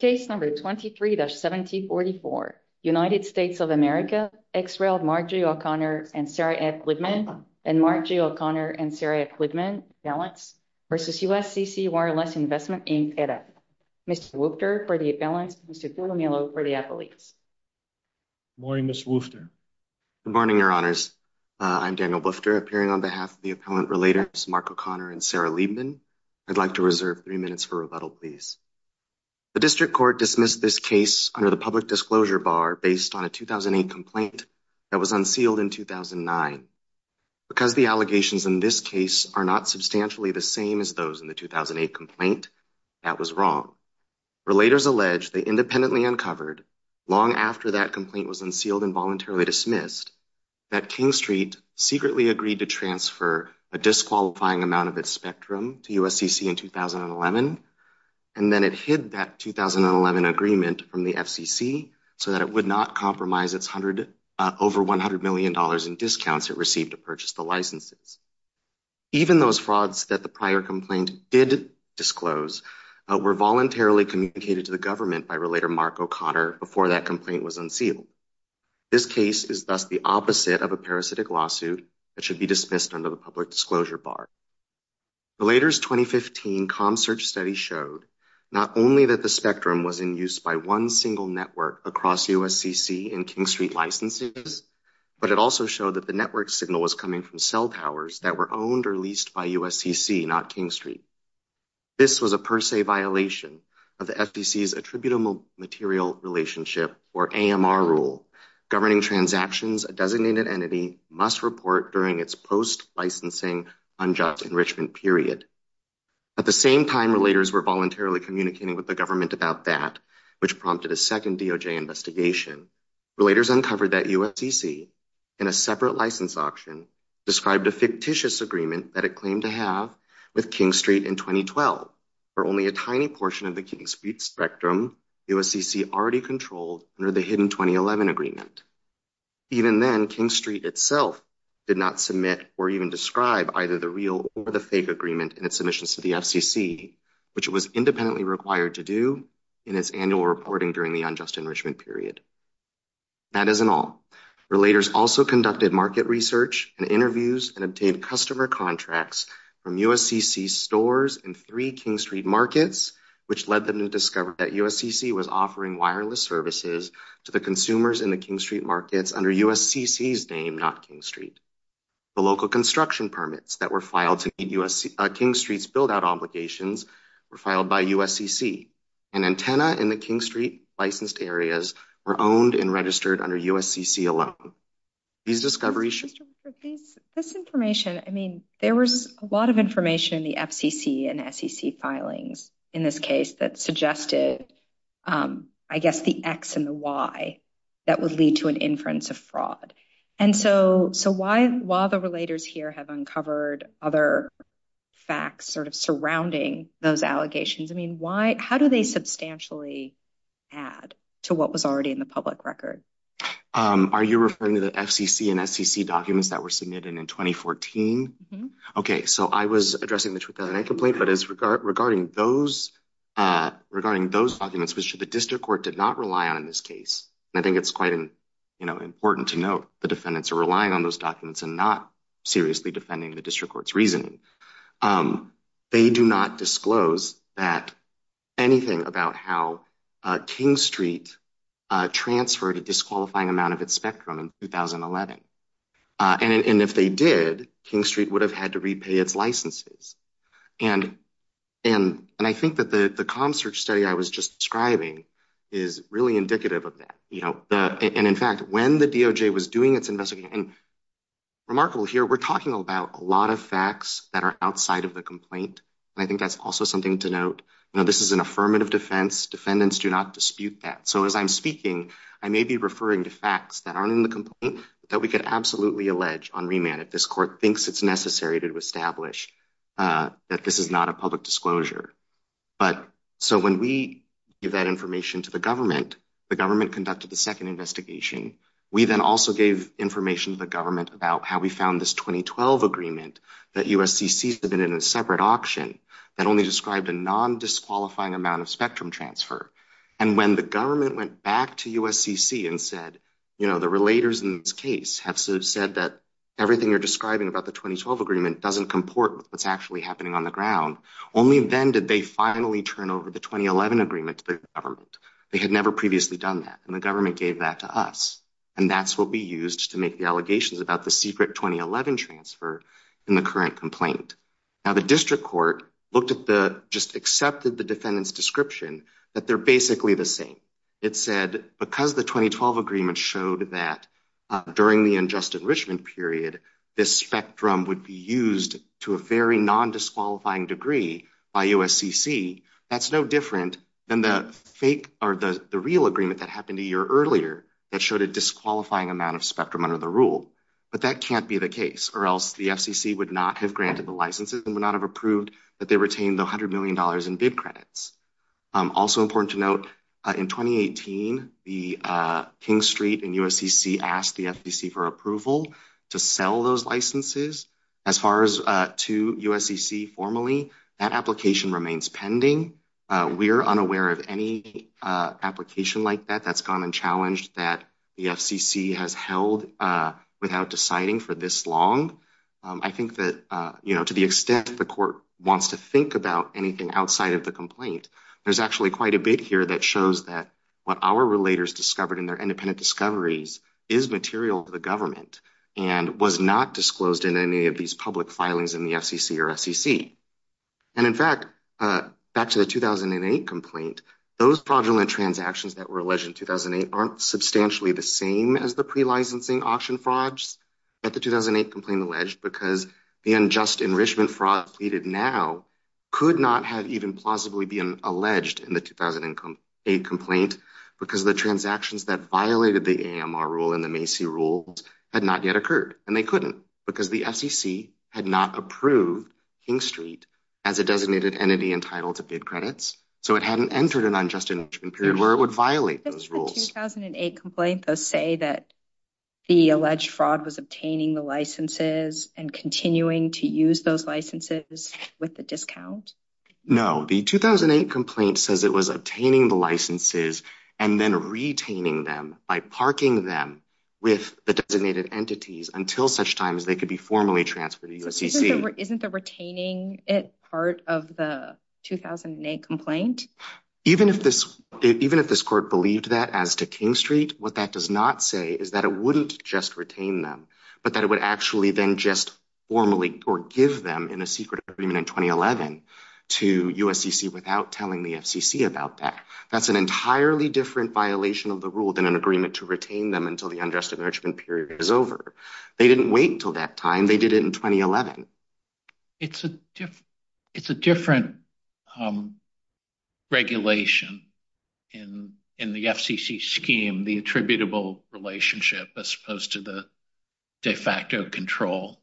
Case number 23-1744, United States of America, ex-railed Mark G. O'Connor and Sarah F. Liebman, and Mark G. O'Connor and Sarah F. Liebman, balanced versus USCC Wireless Investment, Inc, EDA. Mr. Woufter for the balance, Mr. Tutomilo for the appellees. Good morning, Ms. Woufter. Good morning, your honors. I'm Daniel Woufter, appearing on behalf of the appellant relatives, Mark O'Connor and Sarah Liebman. I'd like to reserve three minutes for rebuttal, please. The district court dismissed this case under the public disclosure bar based on a 2008 complaint that was unsealed in 2009. Because the allegations in this case are not substantially the same as those in the 2008 complaint, that was wrong. Relators allege they independently uncovered, long after that complaint was unsealed and voluntarily dismissed, that King Street secretly agreed to transfer a disqualifying amount of its spectrum to USCC in 2011. And then it hid that 2011 agreement from the FCC so that it would not compromise its over $100 million in discounts it received to purchase the licenses. Even those frauds that the prior complaint did disclose were voluntarily communicated to the government by Relator Mark O'Connor before that complaint was unsealed. This case is thus the opposite of a parasitic lawsuit that should be dismissed under the public disclosure bar. Relators' 2015 comm-search study showed not only that the spectrum was in use by one single network across USCC and King Street licenses, but it also showed that the network signal was coming from cell towers that were owned or leased by USCC, not King Street. This was a per se violation of the FCC's attributable material relationship or AMR rule, governing transactions a designated entity must report during its post-licensing unjust enrichment period. At the same time, Relators were voluntarily communicating with the government about that, which prompted a second DOJ investigation. Relators uncovered that USCC, in a separate license auction, described a fictitious agreement that it claimed to have with King Street in 2012, for only a tiny portion of the King Street spectrum USCC already controlled under the hidden 2011 agreement. Even then, King Street itself did not submit or even describe either the real or the fake agreement in its submissions to the FCC, which it was independently required to do in its annual reporting during the unjust enrichment period. That isn't all. Relators also conducted market research and interviews and obtained customer contracts from USCC stores and three King Street markets, which led them to discover that USCC was offering wireless services to the consumers in the King Street markets under USCC's name, not King Street. The local construction permits that were filed to meet King Street's build-out obligations were filed by USCC, and antenna in the King Street licensed areas were owned and registered under USCC alone. These discoveries- Mr. Woodford, this information, I mean, there was a lot of information in the FCC and SEC filings in this case that suggested, I guess, the X and the Y that would lead to an inference of fraud. And so while the relators here have uncovered other facts sort of surrounding those allegations, I mean, how do they substantially add to what was already in the public record? Are you referring to the FCC and SEC documents that were submitted in 2014? Okay, so I was addressing the 2008 complaint, but regarding those documents, which the district court did not rely on in this case, and I think it's quite important to note the defendants are relying on those documents and not seriously defending the district court's reasoning. They do not disclose anything about how King Street transferred a disqualifying amount of its spectrum in 2011. And if they did, King Street would have had to repay its licenses. And I think that the comm search study I was just describing is really indicative of that. You know, and in fact, when the DOJ was doing its investigation, and remarkable here, we're talking about a lot of facts that are outside of the complaint. And I think that's also something to note. You know, this is an affirmative defense. Defendants do not dispute that. So as I'm speaking, I may be referring to facts that aren't in the complaint that we could absolutely allege on remand if this court thinks it's necessary to establish that this is not a public disclosure. But so when we give that information to the government, the government conducted the second investigation. We then also gave information to the government about how we found this 2012 agreement that USCC submitted in a separate auction that only described a non-disqualifying amount of spectrum transfer. And when the government went back to USCC and said, you know, the relators in this case have said that everything you're describing about the 2012 agreement doesn't comport with what's actually happening on the ground, only then did they finally turn over the 2011 agreement to the government. They had never previously done that, and the government gave that to us. And that's what we used to make the allegations about the secret 2011 transfer in the current complaint. Now, the district court looked at the, just accepted the defendant's description that they're basically the same. It said, because the 2012 agreement showed that during the unjust enrichment period, this spectrum would be used to a very non-disqualifying degree by USCC. That's no different than the fake, or the real agreement that happened a year earlier that showed a disqualifying amount of spectrum under the rule, but that can't be the case, or else the FCC would not have granted the licenses and would not have approved that they retained the $100 million in bid credits. Also important to note, in 2018, the King Street and USCC asked the FCC for approval to sell those licenses. As far as to USCC formally, that application remains pending. We're unaware of any application like that that's gone and challenged that the FCC has held without deciding for this long. I think that, to the extent the court wants to think about anything outside of the complaint, there's actually quite a bit here that shows that what our relators discovered in their independent discoveries is material to the government and was not disclosed in any of these public filings in the FCC or SCC. And in fact, back to the 2008 complaint, those fraudulent transactions that were alleged in 2008 aren't substantially the same as the pre-licensing auction frauds that the 2008 complaint alleged because the unjust enrichment fraud pleaded now could not have even plausibly been alleged in the 2008 complaint because the transactions that violated the AMR rule and the Macy rules had not yet occurred, and they couldn't because the FCC had not approved King Street as a designated entity entitled to bid credits. So it hadn't entered an unjust enrichment period where it would violate those rules. Does the 2008 complaint, though, say that the alleged fraud was obtaining the licenses and continuing to use those licenses with the discount? No, the 2008 complaint says it was obtaining the licenses and then retaining them by parking them with the designated entities until such time as they could be formally transferred to USCC. Isn't the retaining it part of the 2008 complaint? Even if this court believed that as to King Street, what that does not say is that it wouldn't just retain them but that it would actually then just formally or give them in a secret agreement in 2011 to USCC without telling the FCC about that. That's an entirely different violation of the rule than an agreement to retain them until the unjust enrichment period is over. They didn't wait until that time, they did it in 2011. It's a different regulation in the FCC scheme, the attributable relationship as opposed to the de facto control.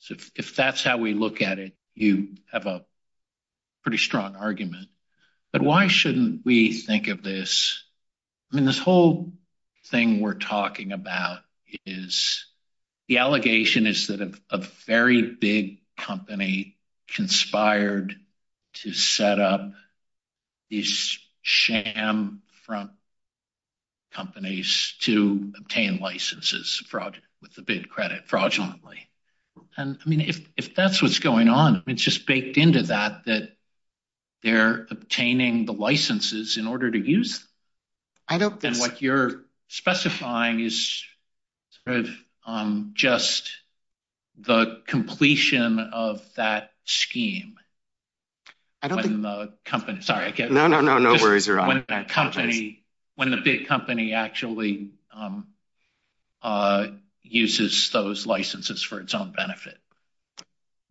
So if that's how we look at it, you have a pretty strong argument. But why shouldn't we think of this? I mean, this whole thing we're talking about is the allegation is that a very big company conspired to set up these sham front companies to obtain licenses fraud with the bid credit fraudulently. And I mean, if that's what's going on, it's just baked into that, that they're obtaining the licenses in order to use. I don't think- And what you're specifying is sort of just the completion of that scheme. I don't think- When the company, sorry again. No, no, no, no worries, you're on. When the company, when the big company actually uses those licenses for its own benefit.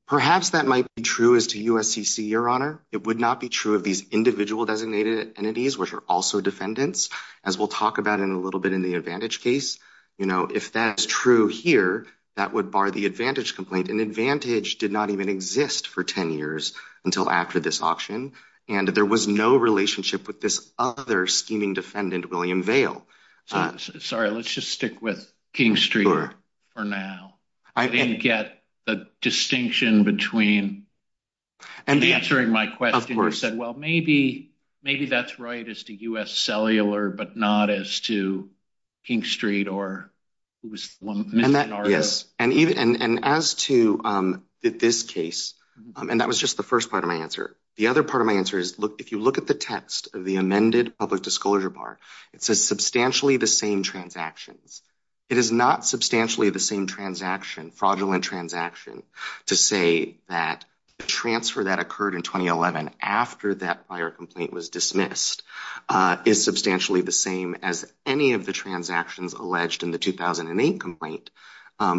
Perhaps that might be true as to USCC, your honor. It would not be true of these individual designated entities which are also defendants, as we'll talk about in a little bit in the Advantage case. If that's true here, that would bar the Advantage complaint and Advantage did not even exist for 10 years until after this auction. And there was no relationship with this other scheming defendant, William Vail. Sorry, let's just stick with King Street for now. I didn't get the distinction between, and answering my question, you said, well, maybe that's right as to US Cellular, but not as to King Street or who was the missing article. And as to this case, and that was just the first part of my answer. The other part of my answer is, if you look at the text of the amended public disclosure bar, it says substantially the same transactions. It is not substantially the same transaction, fraudulent transaction to say that the transfer that occurred in 2011 after that prior complaint was dismissed is substantially the same as any of the transactions alleged in the 2008 complaint,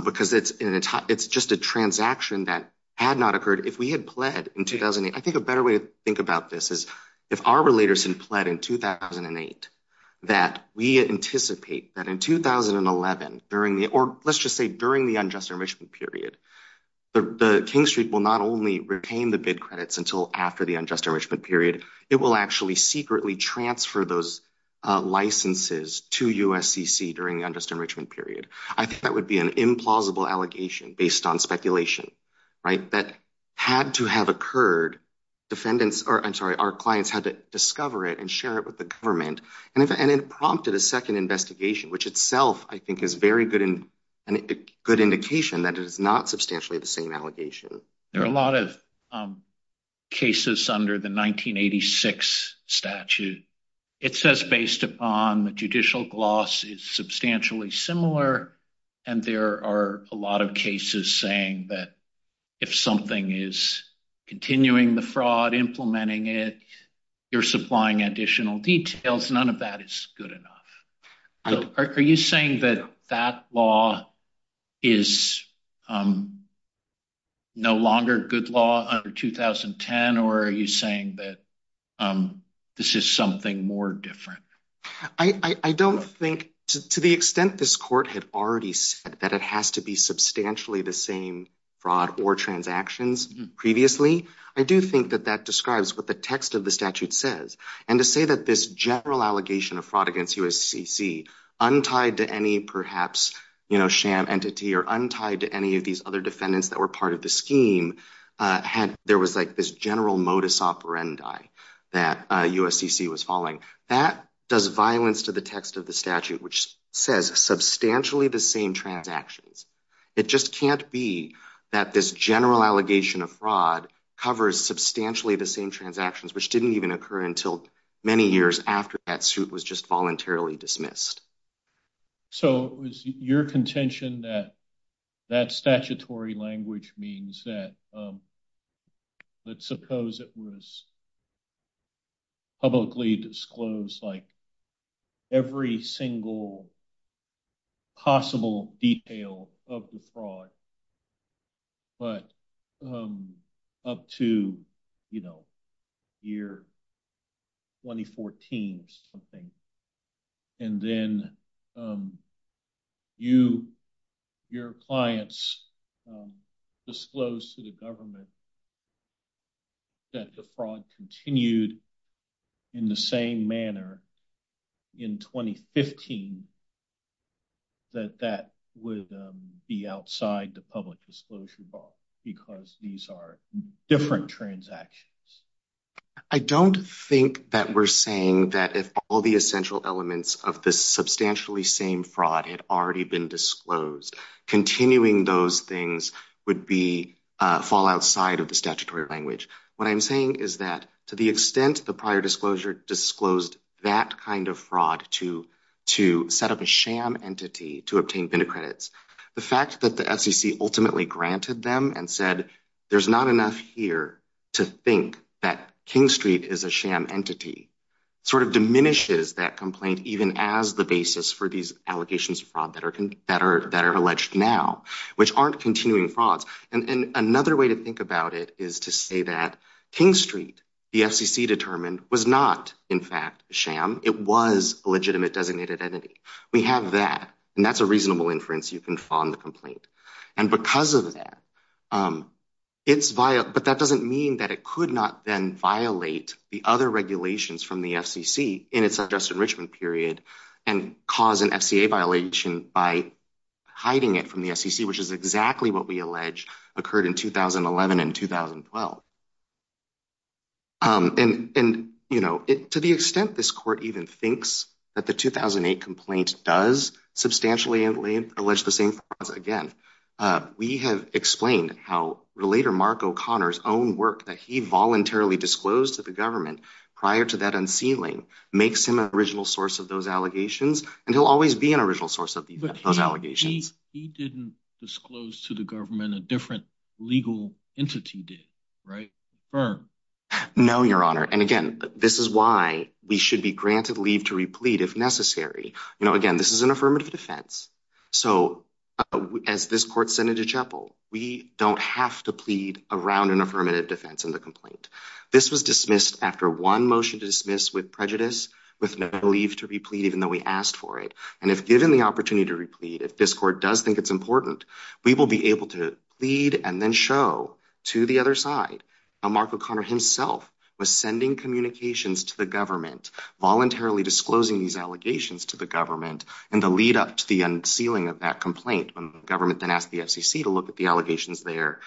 because it's just a transaction that had not occurred if we had pled in 2008. I think a better way to think about this is if our relators had pled in 2008, that we anticipate that in 2011, during the, or let's just say during the unjust enrichment period, the King Street will not only retain the bid credits until after the unjust enrichment period, it will actually secretly transfer those licenses to USCC during the unjust enrichment period. I think that would be an implausible allegation based on speculation, right? That had to have occurred, defendants, or I'm sorry, our clients had to discover it and share it with the government. And it prompted a second investigation, which itself I think is very good indication that it is not substantially the same allegation. There are a lot of cases under the 1986 statute. It says based upon the judicial gloss is substantially similar. And there are a lot of cases saying that if something is continuing the fraud, implementing it, you're supplying additional details, none of that is good enough. Are you saying that that law is no longer good law under 2010, or are you saying that this is something more different? I don't think, to the extent this court had already said that it has to be substantially the same fraud or transactions previously, I do think that that describes what the text of the statute says. And to say that this general allegation of fraud against USCC untied to any perhaps sham entity or untied to any of these other defendants that were part of the scheme, there was like this general modus operandi that USCC was following. That does violence to the text of the statute, which says substantially the same transactions. It just can't be that this general allegation of fraud covers substantially the same transactions, which didn't even occur until many years after that suit was just voluntarily dismissed. So it was your contention that that statutory language means that, let's suppose it was publicly disclosed like every single possible detail of the fraud, but up to year 2014 something. And then you, your clients disclosed to the government that the fraud continued in the same manner in 2015, that that would be outside the public disclosure bar because these are different transactions. I don't think that we're saying that if all the essential elements of this substantially same fraud had already been disclosed, continuing those things would fall outside of the statutory language. What I'm saying is that to the extent the prior disclosure disclosed that kind of fraud to set up a sham entity to obtain VIN credits, the fact that the SEC ultimately granted them and said, there's not enough here to think that King Street is a sham entity sort of diminishes that complaint even as the basis for these allegations of fraud that are alleged now, which aren't continuing frauds. And another way to think about it is to say that King Street, the FCC determined was not in fact sham, it was a legitimate designated entity. We have that, and that's a reasonable inference you can find the complaint. And because of that, it's via, but that doesn't mean that it could not then violate the other regulations from the FCC in its adjusted enrichment period and cause an FCA violation by hiding it from the SEC, which is exactly what we allege occurred in 2011 and 2012. And to the extent this court even thinks that the 2008 complaint does substantially allege the same frauds again, we have explained how Relator Mark O'Connor's own work that he voluntarily disclosed to the government prior to that unsealing makes him an original source of those allegations, and he'll always be an original source of those allegations. He didn't disclose to the government a different legal entity did, right, firm? No, your honor. And again, this is why we should be granted leave to replete if necessary. You know, again, this is an affirmative defense. So as this court sent it to chapel, we don't have to plead around an affirmative defense in the complaint. This was dismissed after one motion to dismiss with prejudice, with no leave to replete even though we asked for it. And if given the opportunity to replete, if this court does think it's important, we will be able to plead and then show to the other side. Mark O'Connor himself was sending communications to the government, voluntarily disclosing these allegations to the government in the lead up to the unsealing of that complaint when the government then asked the FCC to look at the allegations there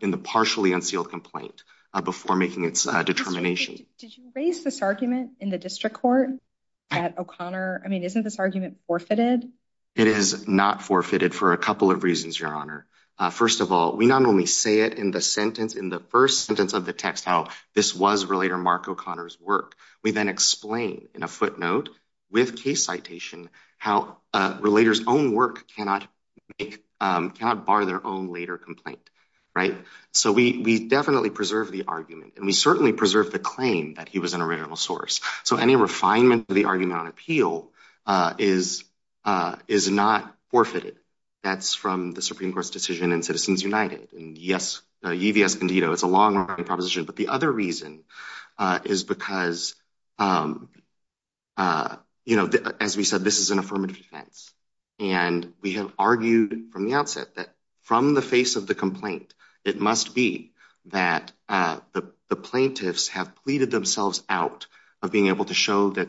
in the partially unsealed complaint before making its determination. Did you raise this argument in the district court at O'Connor? I mean, isn't this argument forfeited? It is not forfeited for a couple of reasons, your honor. First of all, we not only say it in the sentence, in the first sentence of the text, how this was Relator Mark O'Connor's work, we then explain in a footnote with case citation, how a Relator's own work cannot make, cannot bar their own later complaint, right? So we definitely preserve the argument and we certainly preserve the claim that he was an original source. So any refinement of the argument on appeal is not forfeited. That's from the Supreme Court's decision in Citizens United and yes, E.V.S. Condito, it's a long running proposition, but the other reason is because, as we said, this is an affirmative defense and we have argued from the outset that from the face of the complaint, it must be that the plaintiffs have pleaded themselves out of being able to show that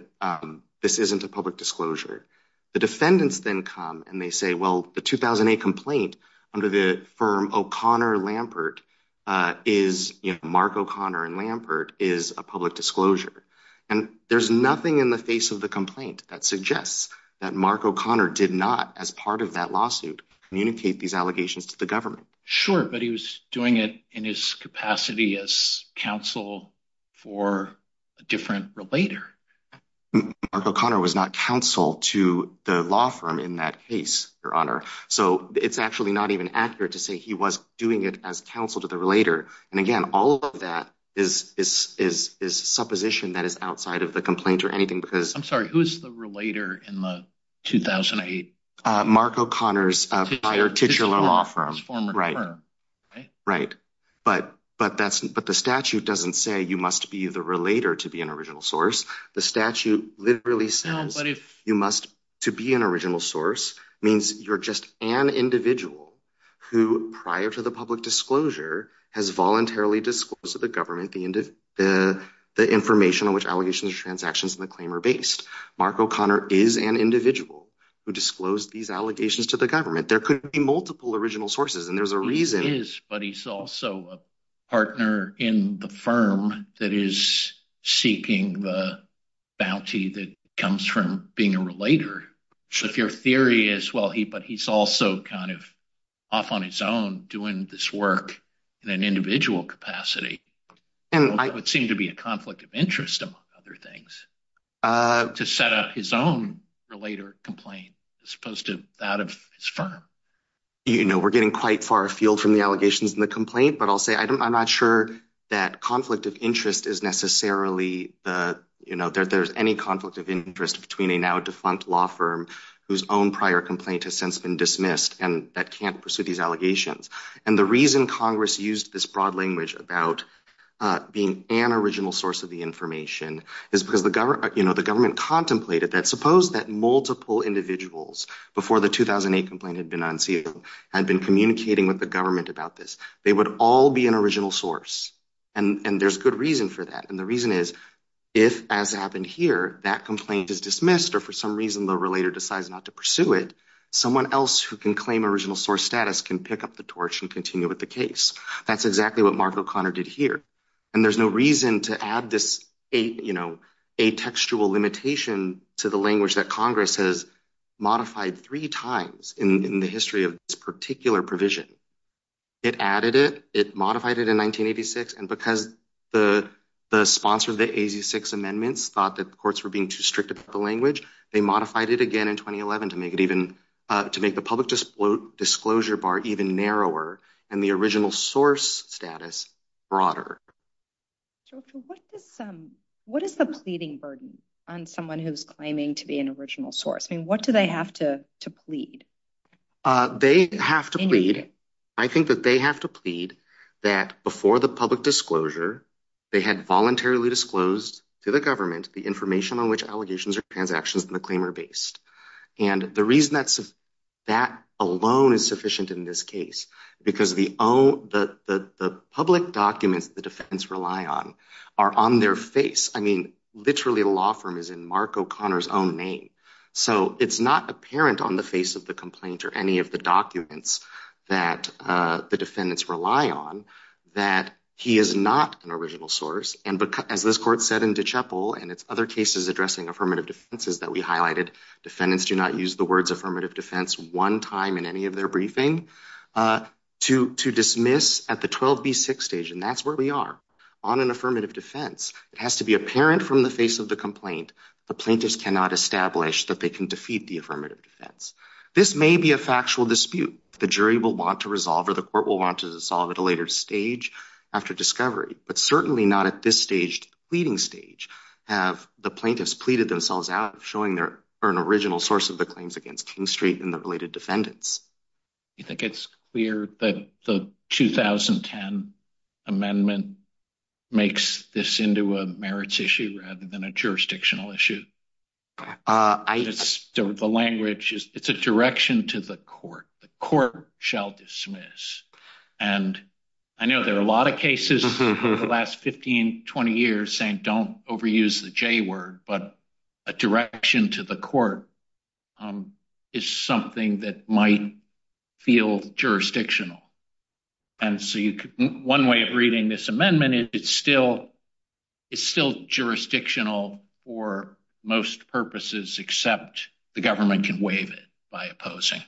this isn't a public disclosure. The defendants then come and they say, well, the 2008 complaint under the firm O'Connor Lampert is Mark O'Connor and Lampert is a public disclosure. And there's nothing in the face of the complaint that suggests that Mark O'Connor did not, as part of that lawsuit, communicate these allegations to the government. Sure, but he was doing it in his capacity as counsel for a different relator. Mark O'Connor was not counsel to the law firm in that case, Your Honor. So it's actually not even accurate to say he was doing it as counsel to the relator. And again, all of that is supposition that is outside of the complaint or anything because- I'm sorry, who is the relator in the 2008? Mark O'Connor's prior titular law firm. Right, right. But the statute doesn't say you must be the relator to be an original source. The statute literally says you must to be an original source means you're just an individual who prior to the public disclosure has voluntarily disclosed to the government the information on which allegations or transactions in the claim are based. Mark O'Connor is an individual who disclosed these allegations to the government. There could be multiple original sources and there's a reason. He is, but he's also a partner in the firm that is seeking the bounty that comes from being a relator. So if your theory is, well, he, but he's also kind of off on his own doing this work in an individual capacity. And it would seem to be a conflict of interest among other things to set up his own relator complaint as opposed to that of his firm. You know, we're getting quite far afield from the allegations in the complaint, but I'll say, I'm not sure that conflict of interest is necessarily the, you know, that there's any conflict of interest between a now defunct law firm whose own prior complaint has since been dismissed and that can't pursue these allegations. And the reason Congress used this broad language about being an original source of the information is because the government contemplated that suppose that multiple individuals before the 2008 complaint had been unsealed had been communicating with the government about this. They would all be an original source and there's good reason for that. And the reason is, if as happened here, that complaint is dismissed, or for some reason the relator decides not to pursue it, someone else who can claim original source status can pick up the torch and continue with the case. That's exactly what Mark O'Connor did here. And there's no reason to add this, you know, a textual limitation to the language that Congress has modified three times in the history of this particular provision. It added it, it modified it in 1986. And because the sponsor of the AZ-6 amendments thought that the courts were being too strict about the language, they modified it again in 2011 to make it even, to make the public disclosure bar even narrower and the original source status broader. So what is the pleading burden on someone who's claiming to be an original source? I mean, what do they have to plead? They have to plead. I think that they have to plead that before the public disclosure, they had voluntarily disclosed to the government the information on which allegations or transactions in the claim are based. And the reason that alone is sufficient in this case, because the public documents that the defendants rely on are on their face. I mean, literally the law firm is in Mark O'Connor's own name. So it's not apparent on the face of the complaint or any of the documents that the defendants rely on that he is not an original source. And as this court said in DeChapel and it's other cases addressing affirmative defenses that we highlighted, defendants do not use the words affirmative defense one time in any of their briefing to dismiss at the 12B6 stage. And that's where we are on an affirmative defense. It has to be apparent from the face of the complaint. The plaintiffs cannot establish that they can defeat the affirmative defense. This may be a factual dispute. The jury will want to resolve or the court will want to resolve at a later stage after discovery, but certainly not at this stage, pleading stage have the plaintiffs pleaded themselves out showing they're an original source of the claims against King Street and the related defendants. You think it's clear that the 2010 amendment makes this into a merits issue rather than a jurisdictional issue? The language is it's a direction to the court. The court shall dismiss. And I know there are a lot of cases the last 15, 20 years saying don't overuse the J word, but a direction to the court is something that might feel jurisdictional. And so one way of reading this amendment is it's still jurisdictional for most purposes except the government can waive it by opposing.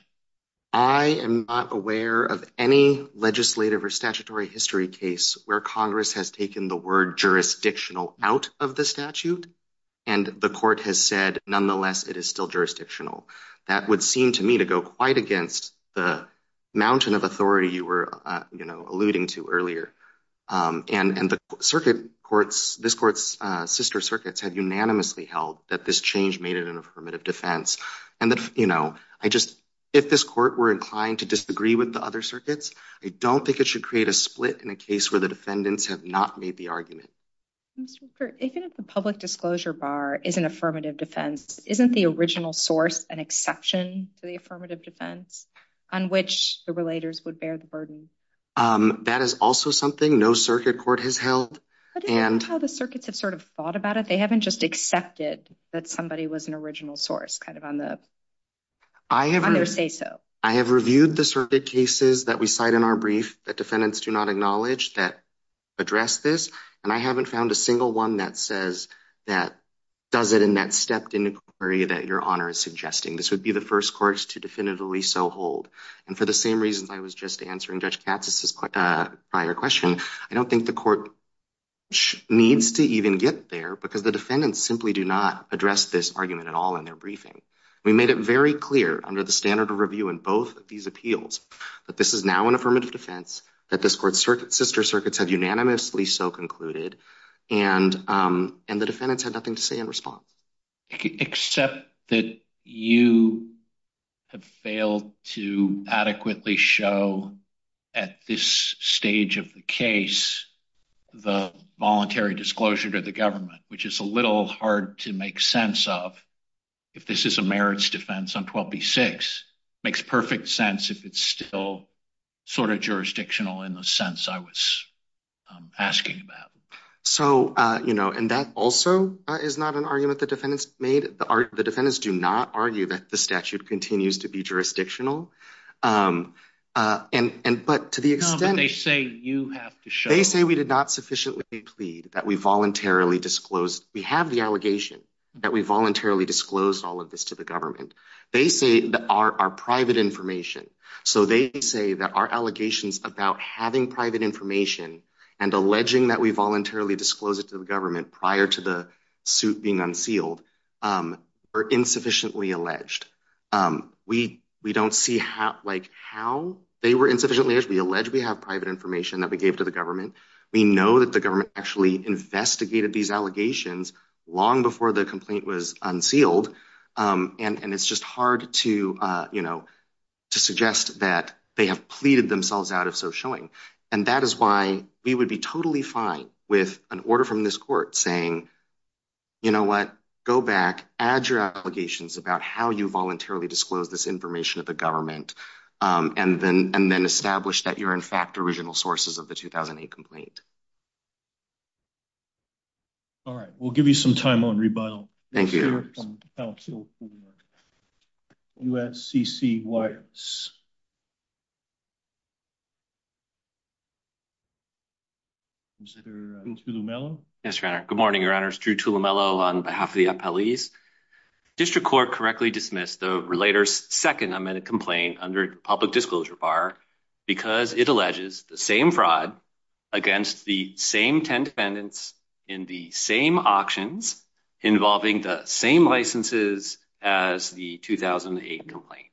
I am not aware of any legislative or statutory history case where Congress has taken the word jurisdictional out of the statute. And the court has said, nonetheless, it is still jurisdictional. That would seem to me to go quite against the mountain of authority you were alluding to earlier. And the circuit courts, this court's sister circuits have unanimously held that this change made it an affirmative defense. And I just, if this court were inclined to disagree with the other circuits, I don't think it should create a split in a case where the defendants have not made the argument. Mr. Kirk, even if the public disclosure bar is an affirmative defense, isn't the original source an exception to the affirmative defense on which the relators would bear the burden? That is also something no circuit court has held. I don't know how the circuits have sort of thought about it. They haven't just accepted that somebody was an original source kind of on their say-so. I have reviewed the circuit cases that we cite in our brief that defendants do not acknowledge that address this. And I haven't found a single one that says that does it in that stepped inquiry that Your Honor is suggesting. This would be the first courts to definitively so hold. And for the same reasons I was just answering Judge Katz's prior question, I don't think the court needs to even get there because the defendants simply do not address this argument at all in their briefing. We made it very clear under the standard of review in both of these appeals that this is now an affirmative defense that this court's sister circuits have unanimously so concluded. And the defendants had nothing to say in response. Except that you have failed to adequately show at this stage of the case the voluntary disclosure to the government, which is a little hard to make sense of if this is a merits defense on 12b-6. Makes perfect sense if it's still sort of jurisdictional in the sense I was asking about. So, you know, and that also is not an argument the defendants made. The defendants do not argue that the statute continues to be jurisdictional. And, but to the extent- No, but they say you have to show- They say we did not sufficiently plead that we voluntarily disclosed. We have the allegation that we voluntarily disclosed all of this to the government. They say that our private information. So they say that our allegations about having private information and alleging that we voluntarily disclosed it to the government prior to the suit being unsealed are insufficiently alleged. We don't see how they were insufficiently alleged. We allege we have private information that we gave to the government. We know that the government actually investigated these allegations long before the complaint was unsealed. And it's just hard to, you know, to suggest that they have pleaded themselves out of so showing. And that is why we would be totally fine with an order from this court saying, you know what, go back, add your allegations about how you voluntarily disclosed this information to the government and then establish that you're in fact original sources of the 2008 complaint. All right, we'll give you some time on rebuttal. Thank you. USCC Wyatts. Mr. Tulumelo. Yes, Your Honor. Good morning, Your Honors. Drew Tulumelo on behalf of the appellees. District court correctly dismissed the relator's second amended complaint under public disclosure bar because it alleges the same fraud against the same 10 defendants in the same auctions involving the same licenses as the 2008 complaint.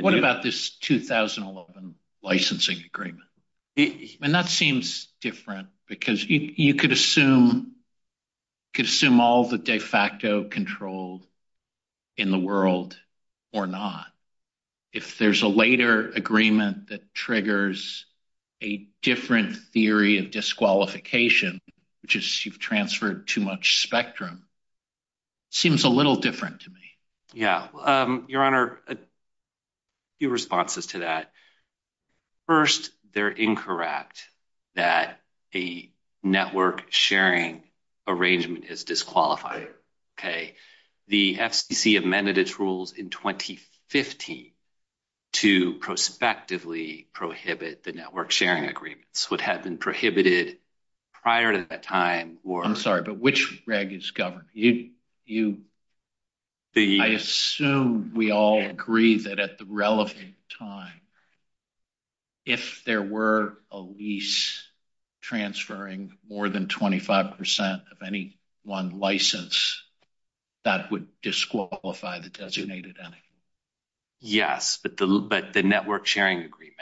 What about this 2011 licensing agreement? I mean, that seems different because you could assume all the de facto control in the world or not. If there's a later agreement that triggers a different theory of disqualification, which is you've transferred too much spectrum, seems a little different to me. Yeah, Your Honor, a few responses to that. First, they're incorrect that a network sharing arrangement is disqualified, okay? The FCC amended its rules in 2015 to prospectively prohibit the network sharing agreements would have been prohibited prior to that time or- I'm sorry, but which reg is governed? I assume we all agree that at the relevant time, if there were a lease transferring more than 25% of any one license, that would disqualify the designated entity. Yes, but the network sharing agreement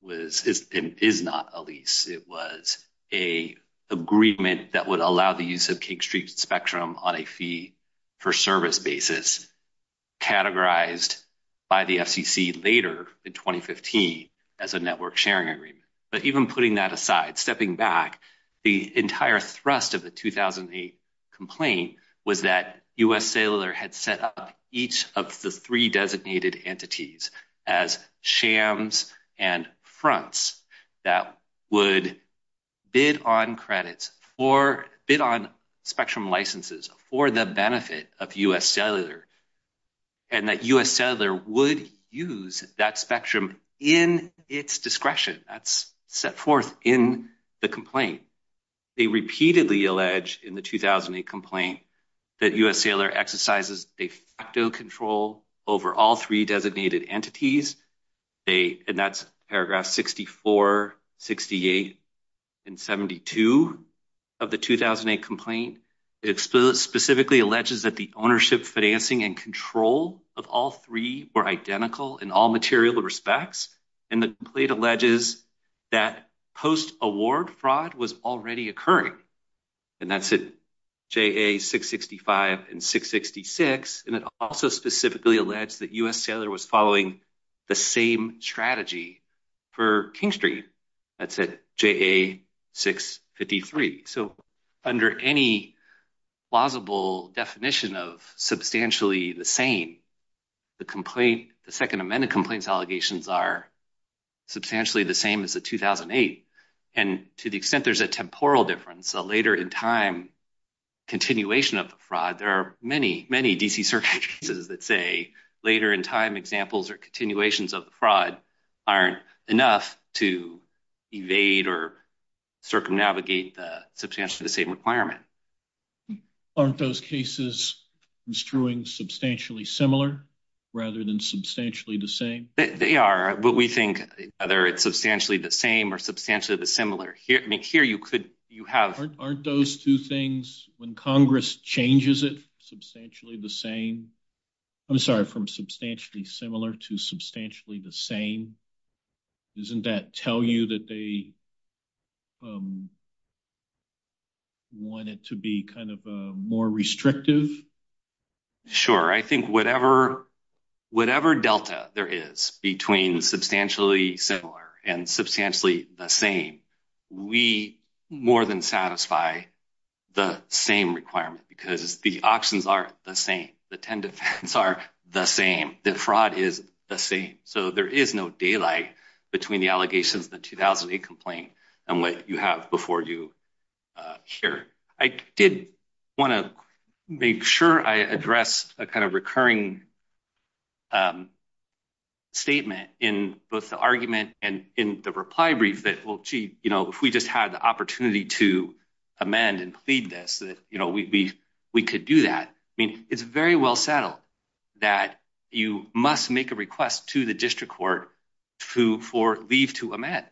was and is not a lease. It was a agreement that would allow the use of King Street spectrum on a fee for service basis categorized by the FCC later in 2015 as a network sharing agreement. But even putting that aside, stepping back, the entire thrust of the 2008 complaint was that U.S. Sailor had set up each of the three designated entities as shams and fronts that would bid on credits or bid on spectrum licenses for the benefit of U.S. Sailor and that U.S. Sailor would use that spectrum in its discretion. That's set forth in the complaint. They repeatedly allege in the 2008 complaint that U.S. Sailor exercises de facto control over all three designated entities. And that's paragraph 64, 68, and 72 of the 2008 complaint. It specifically alleges that the ownership, financing, and control of all three were identical in all material respects. And the complaint alleges that post-award fraud was already occurring. And that's at JA-665 and 666. And it also specifically alleged that U.S. Sailor was following the same strategy for King Street. That's at JA-653. So under any plausible definition of substantially the same, the complaint, the Second Amendment complaints allegations are substantially the same as the 2008. And to the extent there's a temporal difference, a later in time continuation of the fraud, there are many, many D.C. circumstances that say later in time examples or continuations of fraud aren't enough to evade or circumnavigate the substantially the same requirement. Aren't those cases construing substantially similar rather than substantially the same? They are, but we think whether it's substantially the same or substantially the similar. Here you could, you have- When Congress changes it substantially the same, I'm sorry, from substantially similar to substantially the same, isn't that tell you that they want it to be kind of a more restrictive? Sure, I think whatever delta there is between substantially similar and substantially the same, we more than satisfy the same requirement because the options are the same. The 10 defense are the same. The fraud is the same. So there is no daylight between the allegations, the 2008 complaint and what you have before you here. I did wanna make sure I address a kind of recurring statement in both the argument and in the reply brief that, well, gee, if we just had the opportunity to amend and plead this, that we could do that. I mean, it's very well settled that you must make a request to the district court for leave to amend.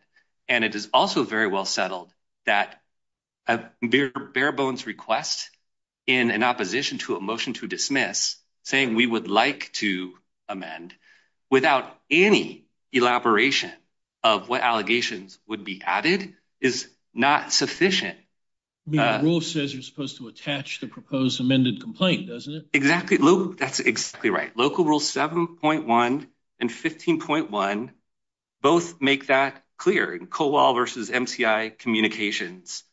And it is also very well settled that a bare bones request in an opposition to a motion to dismiss saying we would like to amend without any elaboration of what allegations would be added is not sufficient. The rule says you're supposed to attach the proposed amended complaint, doesn't it? Exactly, that's exactly right. Local rule 7.1 and 15.1 both make that clear in COOL versus MCI communications,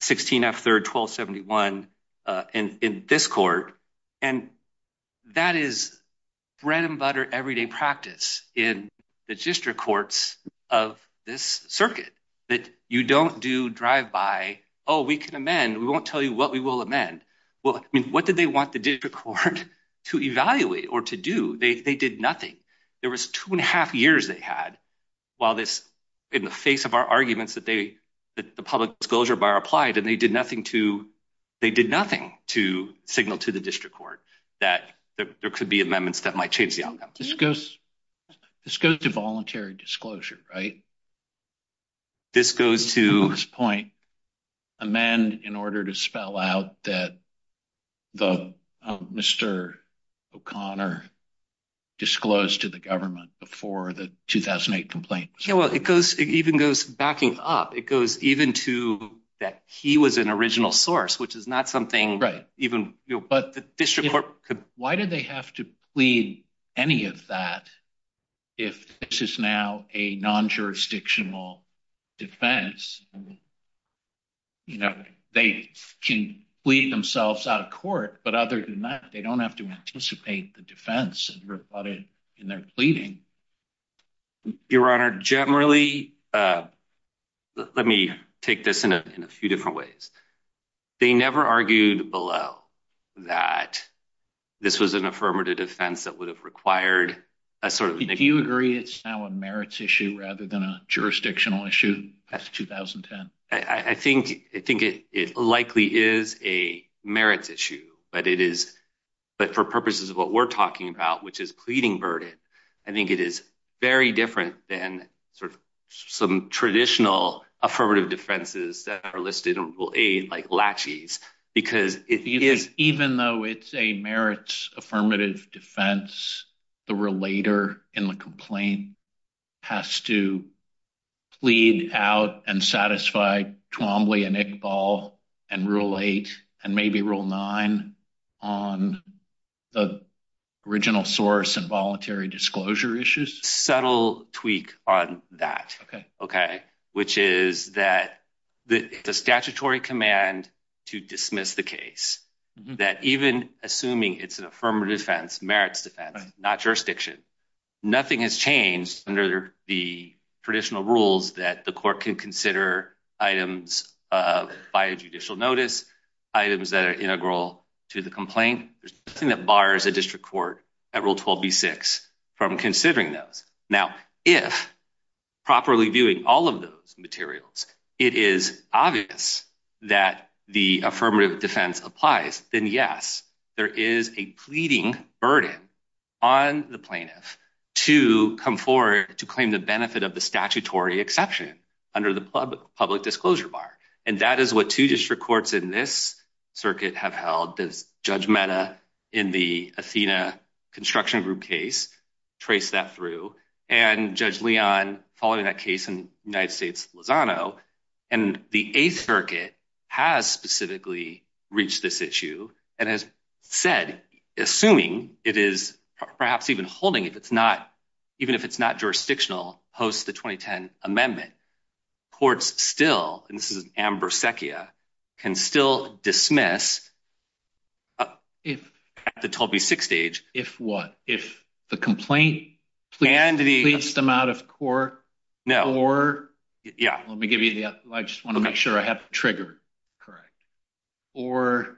16 F third, 1271 in this court. And that is bread and butter everyday practice. The district courts of this circuit that you don't do drive by, oh, we can amend. We won't tell you what we will amend. Well, I mean, what did they want the district court to evaluate or to do? They did nothing. There was two and a half years they had while this in the face of our arguments that they, that the public disclosure bar applied and they did nothing to signal to the district court that there could be amendments that might change the outcome. This goes to voluntary disclosure, right? This goes to- To this point, amend in order to spell out that Mr. O'Connor disclosed to the government before the 2008 complaint. Yeah, well, it goes, it even goes backing up. It goes even to that he was an original source, which is not something even, but the district court could- Any of that, if this is now a non-jurisdictional defense, they can plead themselves out of court, but other than that, they don't have to anticipate the defense in their pleading. Your Honor, generally, let me take this in a few different ways. They never argued below that this was an affirmative defense that would have required a sort of- Do you agree it's now a merits issue rather than a jurisdictional issue past 2010? I think it likely is a merits issue, but it is, but for purposes of what we're talking about, which is pleading burden, I think it is very different than sort of some traditional affirmative defenses that are listed in Rule 8, like laches, because it is- The relator in the complaint has to plead out and satisfy Twombly and Iqbal and Rule 8 and maybe Rule 9 on the original source and voluntary disclosure issues. Subtle tweak on that, okay? Which is that the statutory command to dismiss the case, that even assuming it's an affirmative defense, merits defense, not jurisdiction, nothing has changed under the traditional rules that the court can consider items by judicial notice, items that are integral to the complaint. There's nothing that bars a district court at Rule 12b-6 from considering those. Now, if properly viewing all of those materials, it is obvious that the affirmative defense applies, then yes, there is a pleading burden on the plaintiff to come forward to claim the benefit of the statutory exception under the public disclosure bar. And that is what two district courts in this circuit have held. There's Judge Mehta in the Athena Construction Group case, trace that through, and Judge Leon following that case in United States Lozano. And the Eighth Circuit has specifically reached this issue. And as said, assuming it is perhaps even holding, even if it's not jurisdictional, post the 2010 amendment, courts still, and this is Amber Secchia, can still dismiss at the 12b-6 stage. If what? If the complaint pleads them out of court? No. Or? Yeah. Let me give you the, I just want to make sure I have triggered correct. Or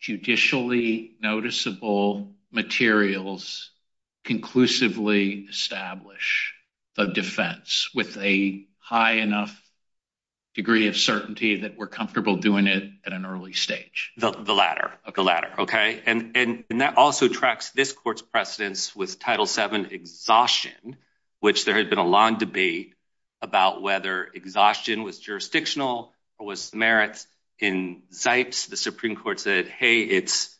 judicially noticeable materials conclusively establish the defense with a high enough degree of certainty that we're comfortable doing it at an early stage? The latter, the latter, okay? And that also tracks this court's precedence with Title VII exhaustion, which there had been a long debate about whether exhaustion was jurisdictional or was merits. In Zipes, the Supreme Court said, hey, it's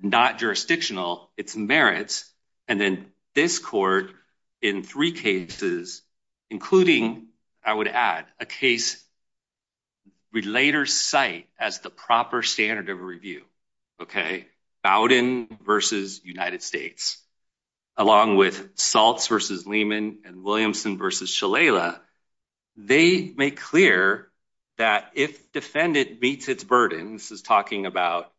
not jurisdictional, it's merits. And then this court in three cases, including, I would add, a case relater site as the proper standard of review, okay? Bowdoin versus United States, along with Saltz versus Lehman and Williamson versus Shalala, they make clear that if defendant meets its burden, this is talking about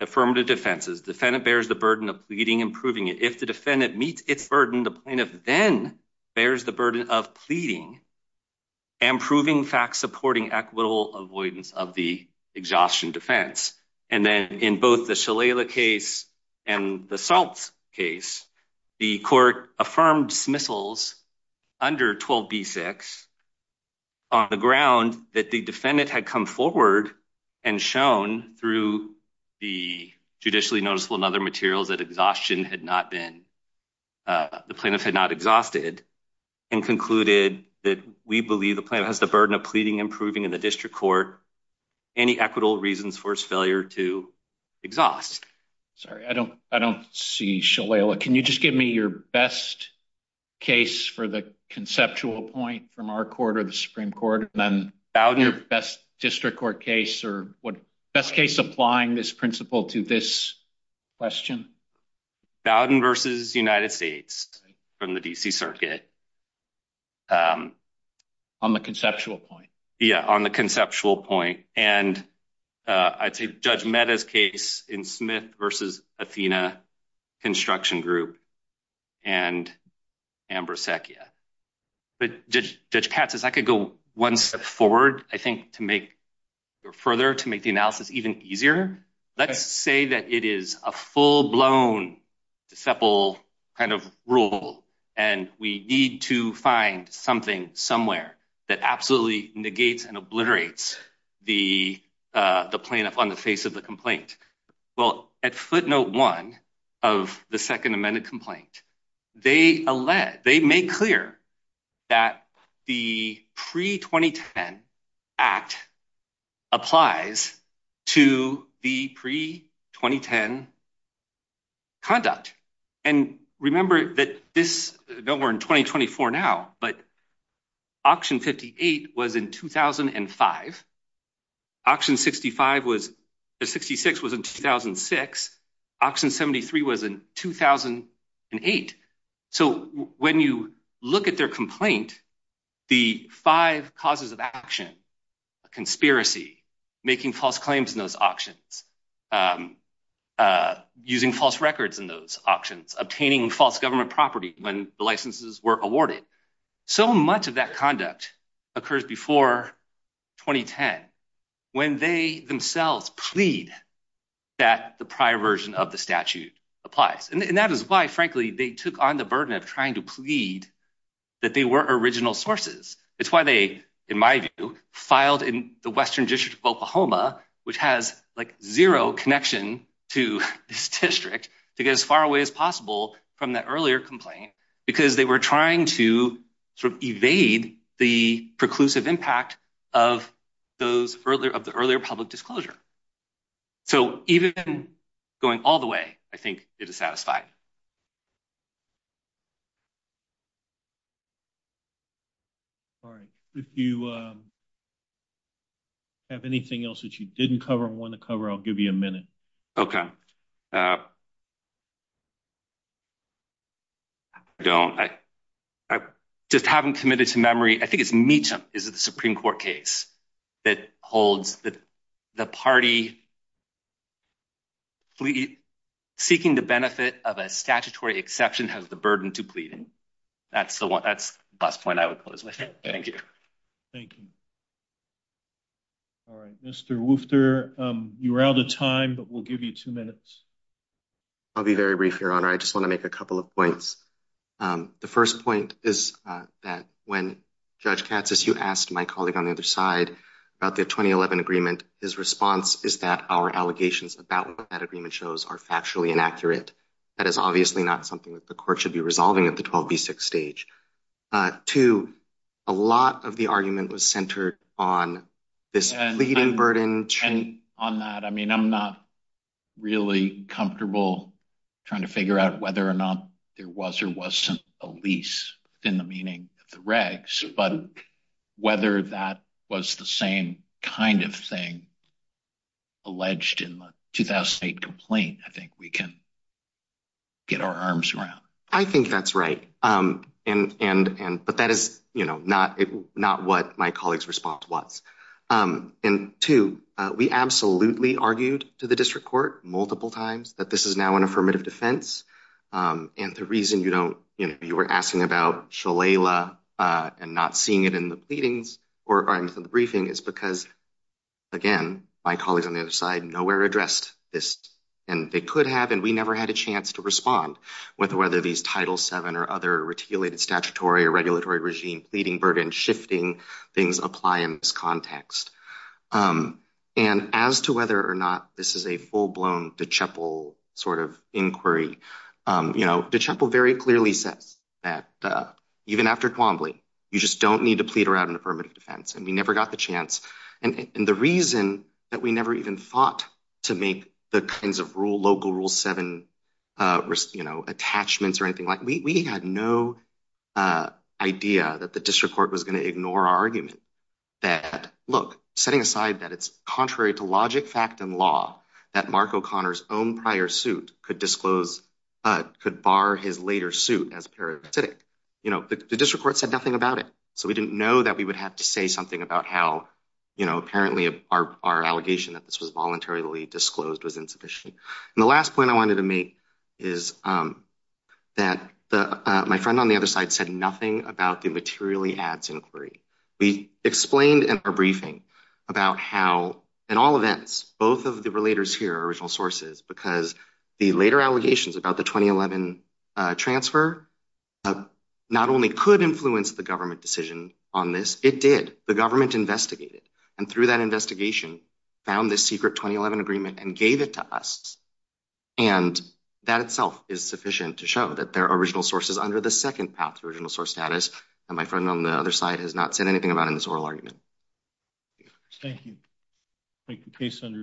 affirmative defenses, defendant bears the burden of pleading and proving it. If the defendant meets its burden, the plaintiff then bears the burden of pleading and proving facts supporting equitable avoidance of the exhaustion defense. And then in both the Shalala case and the Saltz case, the court affirmed dismissals under 12b-6 on the ground that the defendant had come forward and shown through the judicially noticeable and other materials that exhaustion had not been, the plaintiff had not exhausted and concluded that we believe the plaintiff has the burden of pleading and proving in the district court any equitable reasons for his failure to exhaust. Sorry, I don't see Shalala. Can you just give me your best case for the conceptual point from our court or the Supreme Court and then your best district court case or what best case applying this principle to this question? Bowdoin versus United States from the D.C. Circuit. On the conceptual point. Yeah, on the conceptual point. And I'd say Judge Mehta's case in Smith versus Athena Construction Group and Amber Secchia. But Judge Katz, if I could go one step forward, I think to make it further, to make the analysis even easier. Let's say that it is a full-blown deceptive kind of rule and we need to find something somewhere that absolutely negates and obliterates the plaintiff on the face of the complaint. Well, at footnote one of the second amended complaint, they made clear that the pre-2010 Act applies to the pre-2010 conduct. And remember that this, we're in 2024 now, but auction 58 was in 2005. Auction 65 was, 66 was in 2006. Auction 73 was in 2008. So when you look at their complaint, the five causes of action, conspiracy, making false claims in those auctions, using false records in those auctions, obtaining false government property when the licenses were awarded. So much of that conduct occurs before 2010, when they themselves plead that the prior version of the statute applies. And that is why, frankly, they took on the burden of trying to plead that they were original sources. It's why they, in my view, filed in the Western District of Oklahoma, which has like zero connection to this district to get as far away as possible from that earlier complaint, because they were trying to sort of evade the preclusive impact of the earlier public disclosure. So even going all the way, I think it is satisfied. All right. If you have anything else that you didn't cover or want to cover, I'll give you a minute. Okay. I don't, I just haven't committed to memory. I think it's Meacham is the Supreme Court case that holds that the party seeking the benefit of a statutory exception has the burden to pleading. That's the last point I would close with. Thank you. Thank you. All right. Mr. Woofter, you were out of time, but we'll give you two minutes. I'll be very brief, Your Honor. I just want to make a couple of points. The first point is that when Judge Katsas, you asked my colleague on the other side about the 2011 agreement, his response is that our allegations about what that agreement shows are factually inaccurate. That is obviously not something that the court should be resolving at the 12B6 stage. Two, a lot of the argument was centered on this pleading burden. On that, I mean, I'm not really comfortable trying to figure out whether or not there was or wasn't a lease within the meaning of the regs, but whether that was the same kind of thing alleged in the 2008 complaint, I think we can get our arms around. I think that's right. But that is not what my colleague's response was. And two, we absolutely argued to the district court multiple times that this is now an affirmative defense. And the reason you were asking about Shalala and not seeing it in the briefings is because, again, my colleagues on the other side, nowhere addressed this. And they could have, and we never had a chance to respond with whether these Title VII or other reticulated statutory or regulatory regime pleading burden, shifting things apply in this context. And as to whether or not this is a full-blown DeChapel sort of inquiry, DeChapel very clearly says that even after Twombly, you just don't need to plead around an affirmative defense. And we never got the chance. And the reason that we never even fought to make the kinds of local Rule VII attachments or anything like, we had no idea that the district court was gonna ignore our argument that, look, setting aside that it's contrary to logic, fact, and law, that Mark O'Connor's own prior suit could disclose, could bar his later suit as parasitic. The district court said nothing about it. So we didn't know that we would have to say something about how apparently our allegation that this was voluntarily disclosed was insufficient. And the last point I wanted to make is that my friend on the other side said nothing about the materially ads inquiry. We explained in our briefing about how, in all events, both of the relators here are original sources because the later allegations about the 2011 transfer not only could influence the government decision on this, it did, the government investigated. And through that investigation, found this secret 2011 agreement and gave it to us. And that itself is sufficient to show that there are original sources under the second path, original source status. And my friend on the other side has not said anything about it in this oral argument. Thank you. Thank you, case under advisement.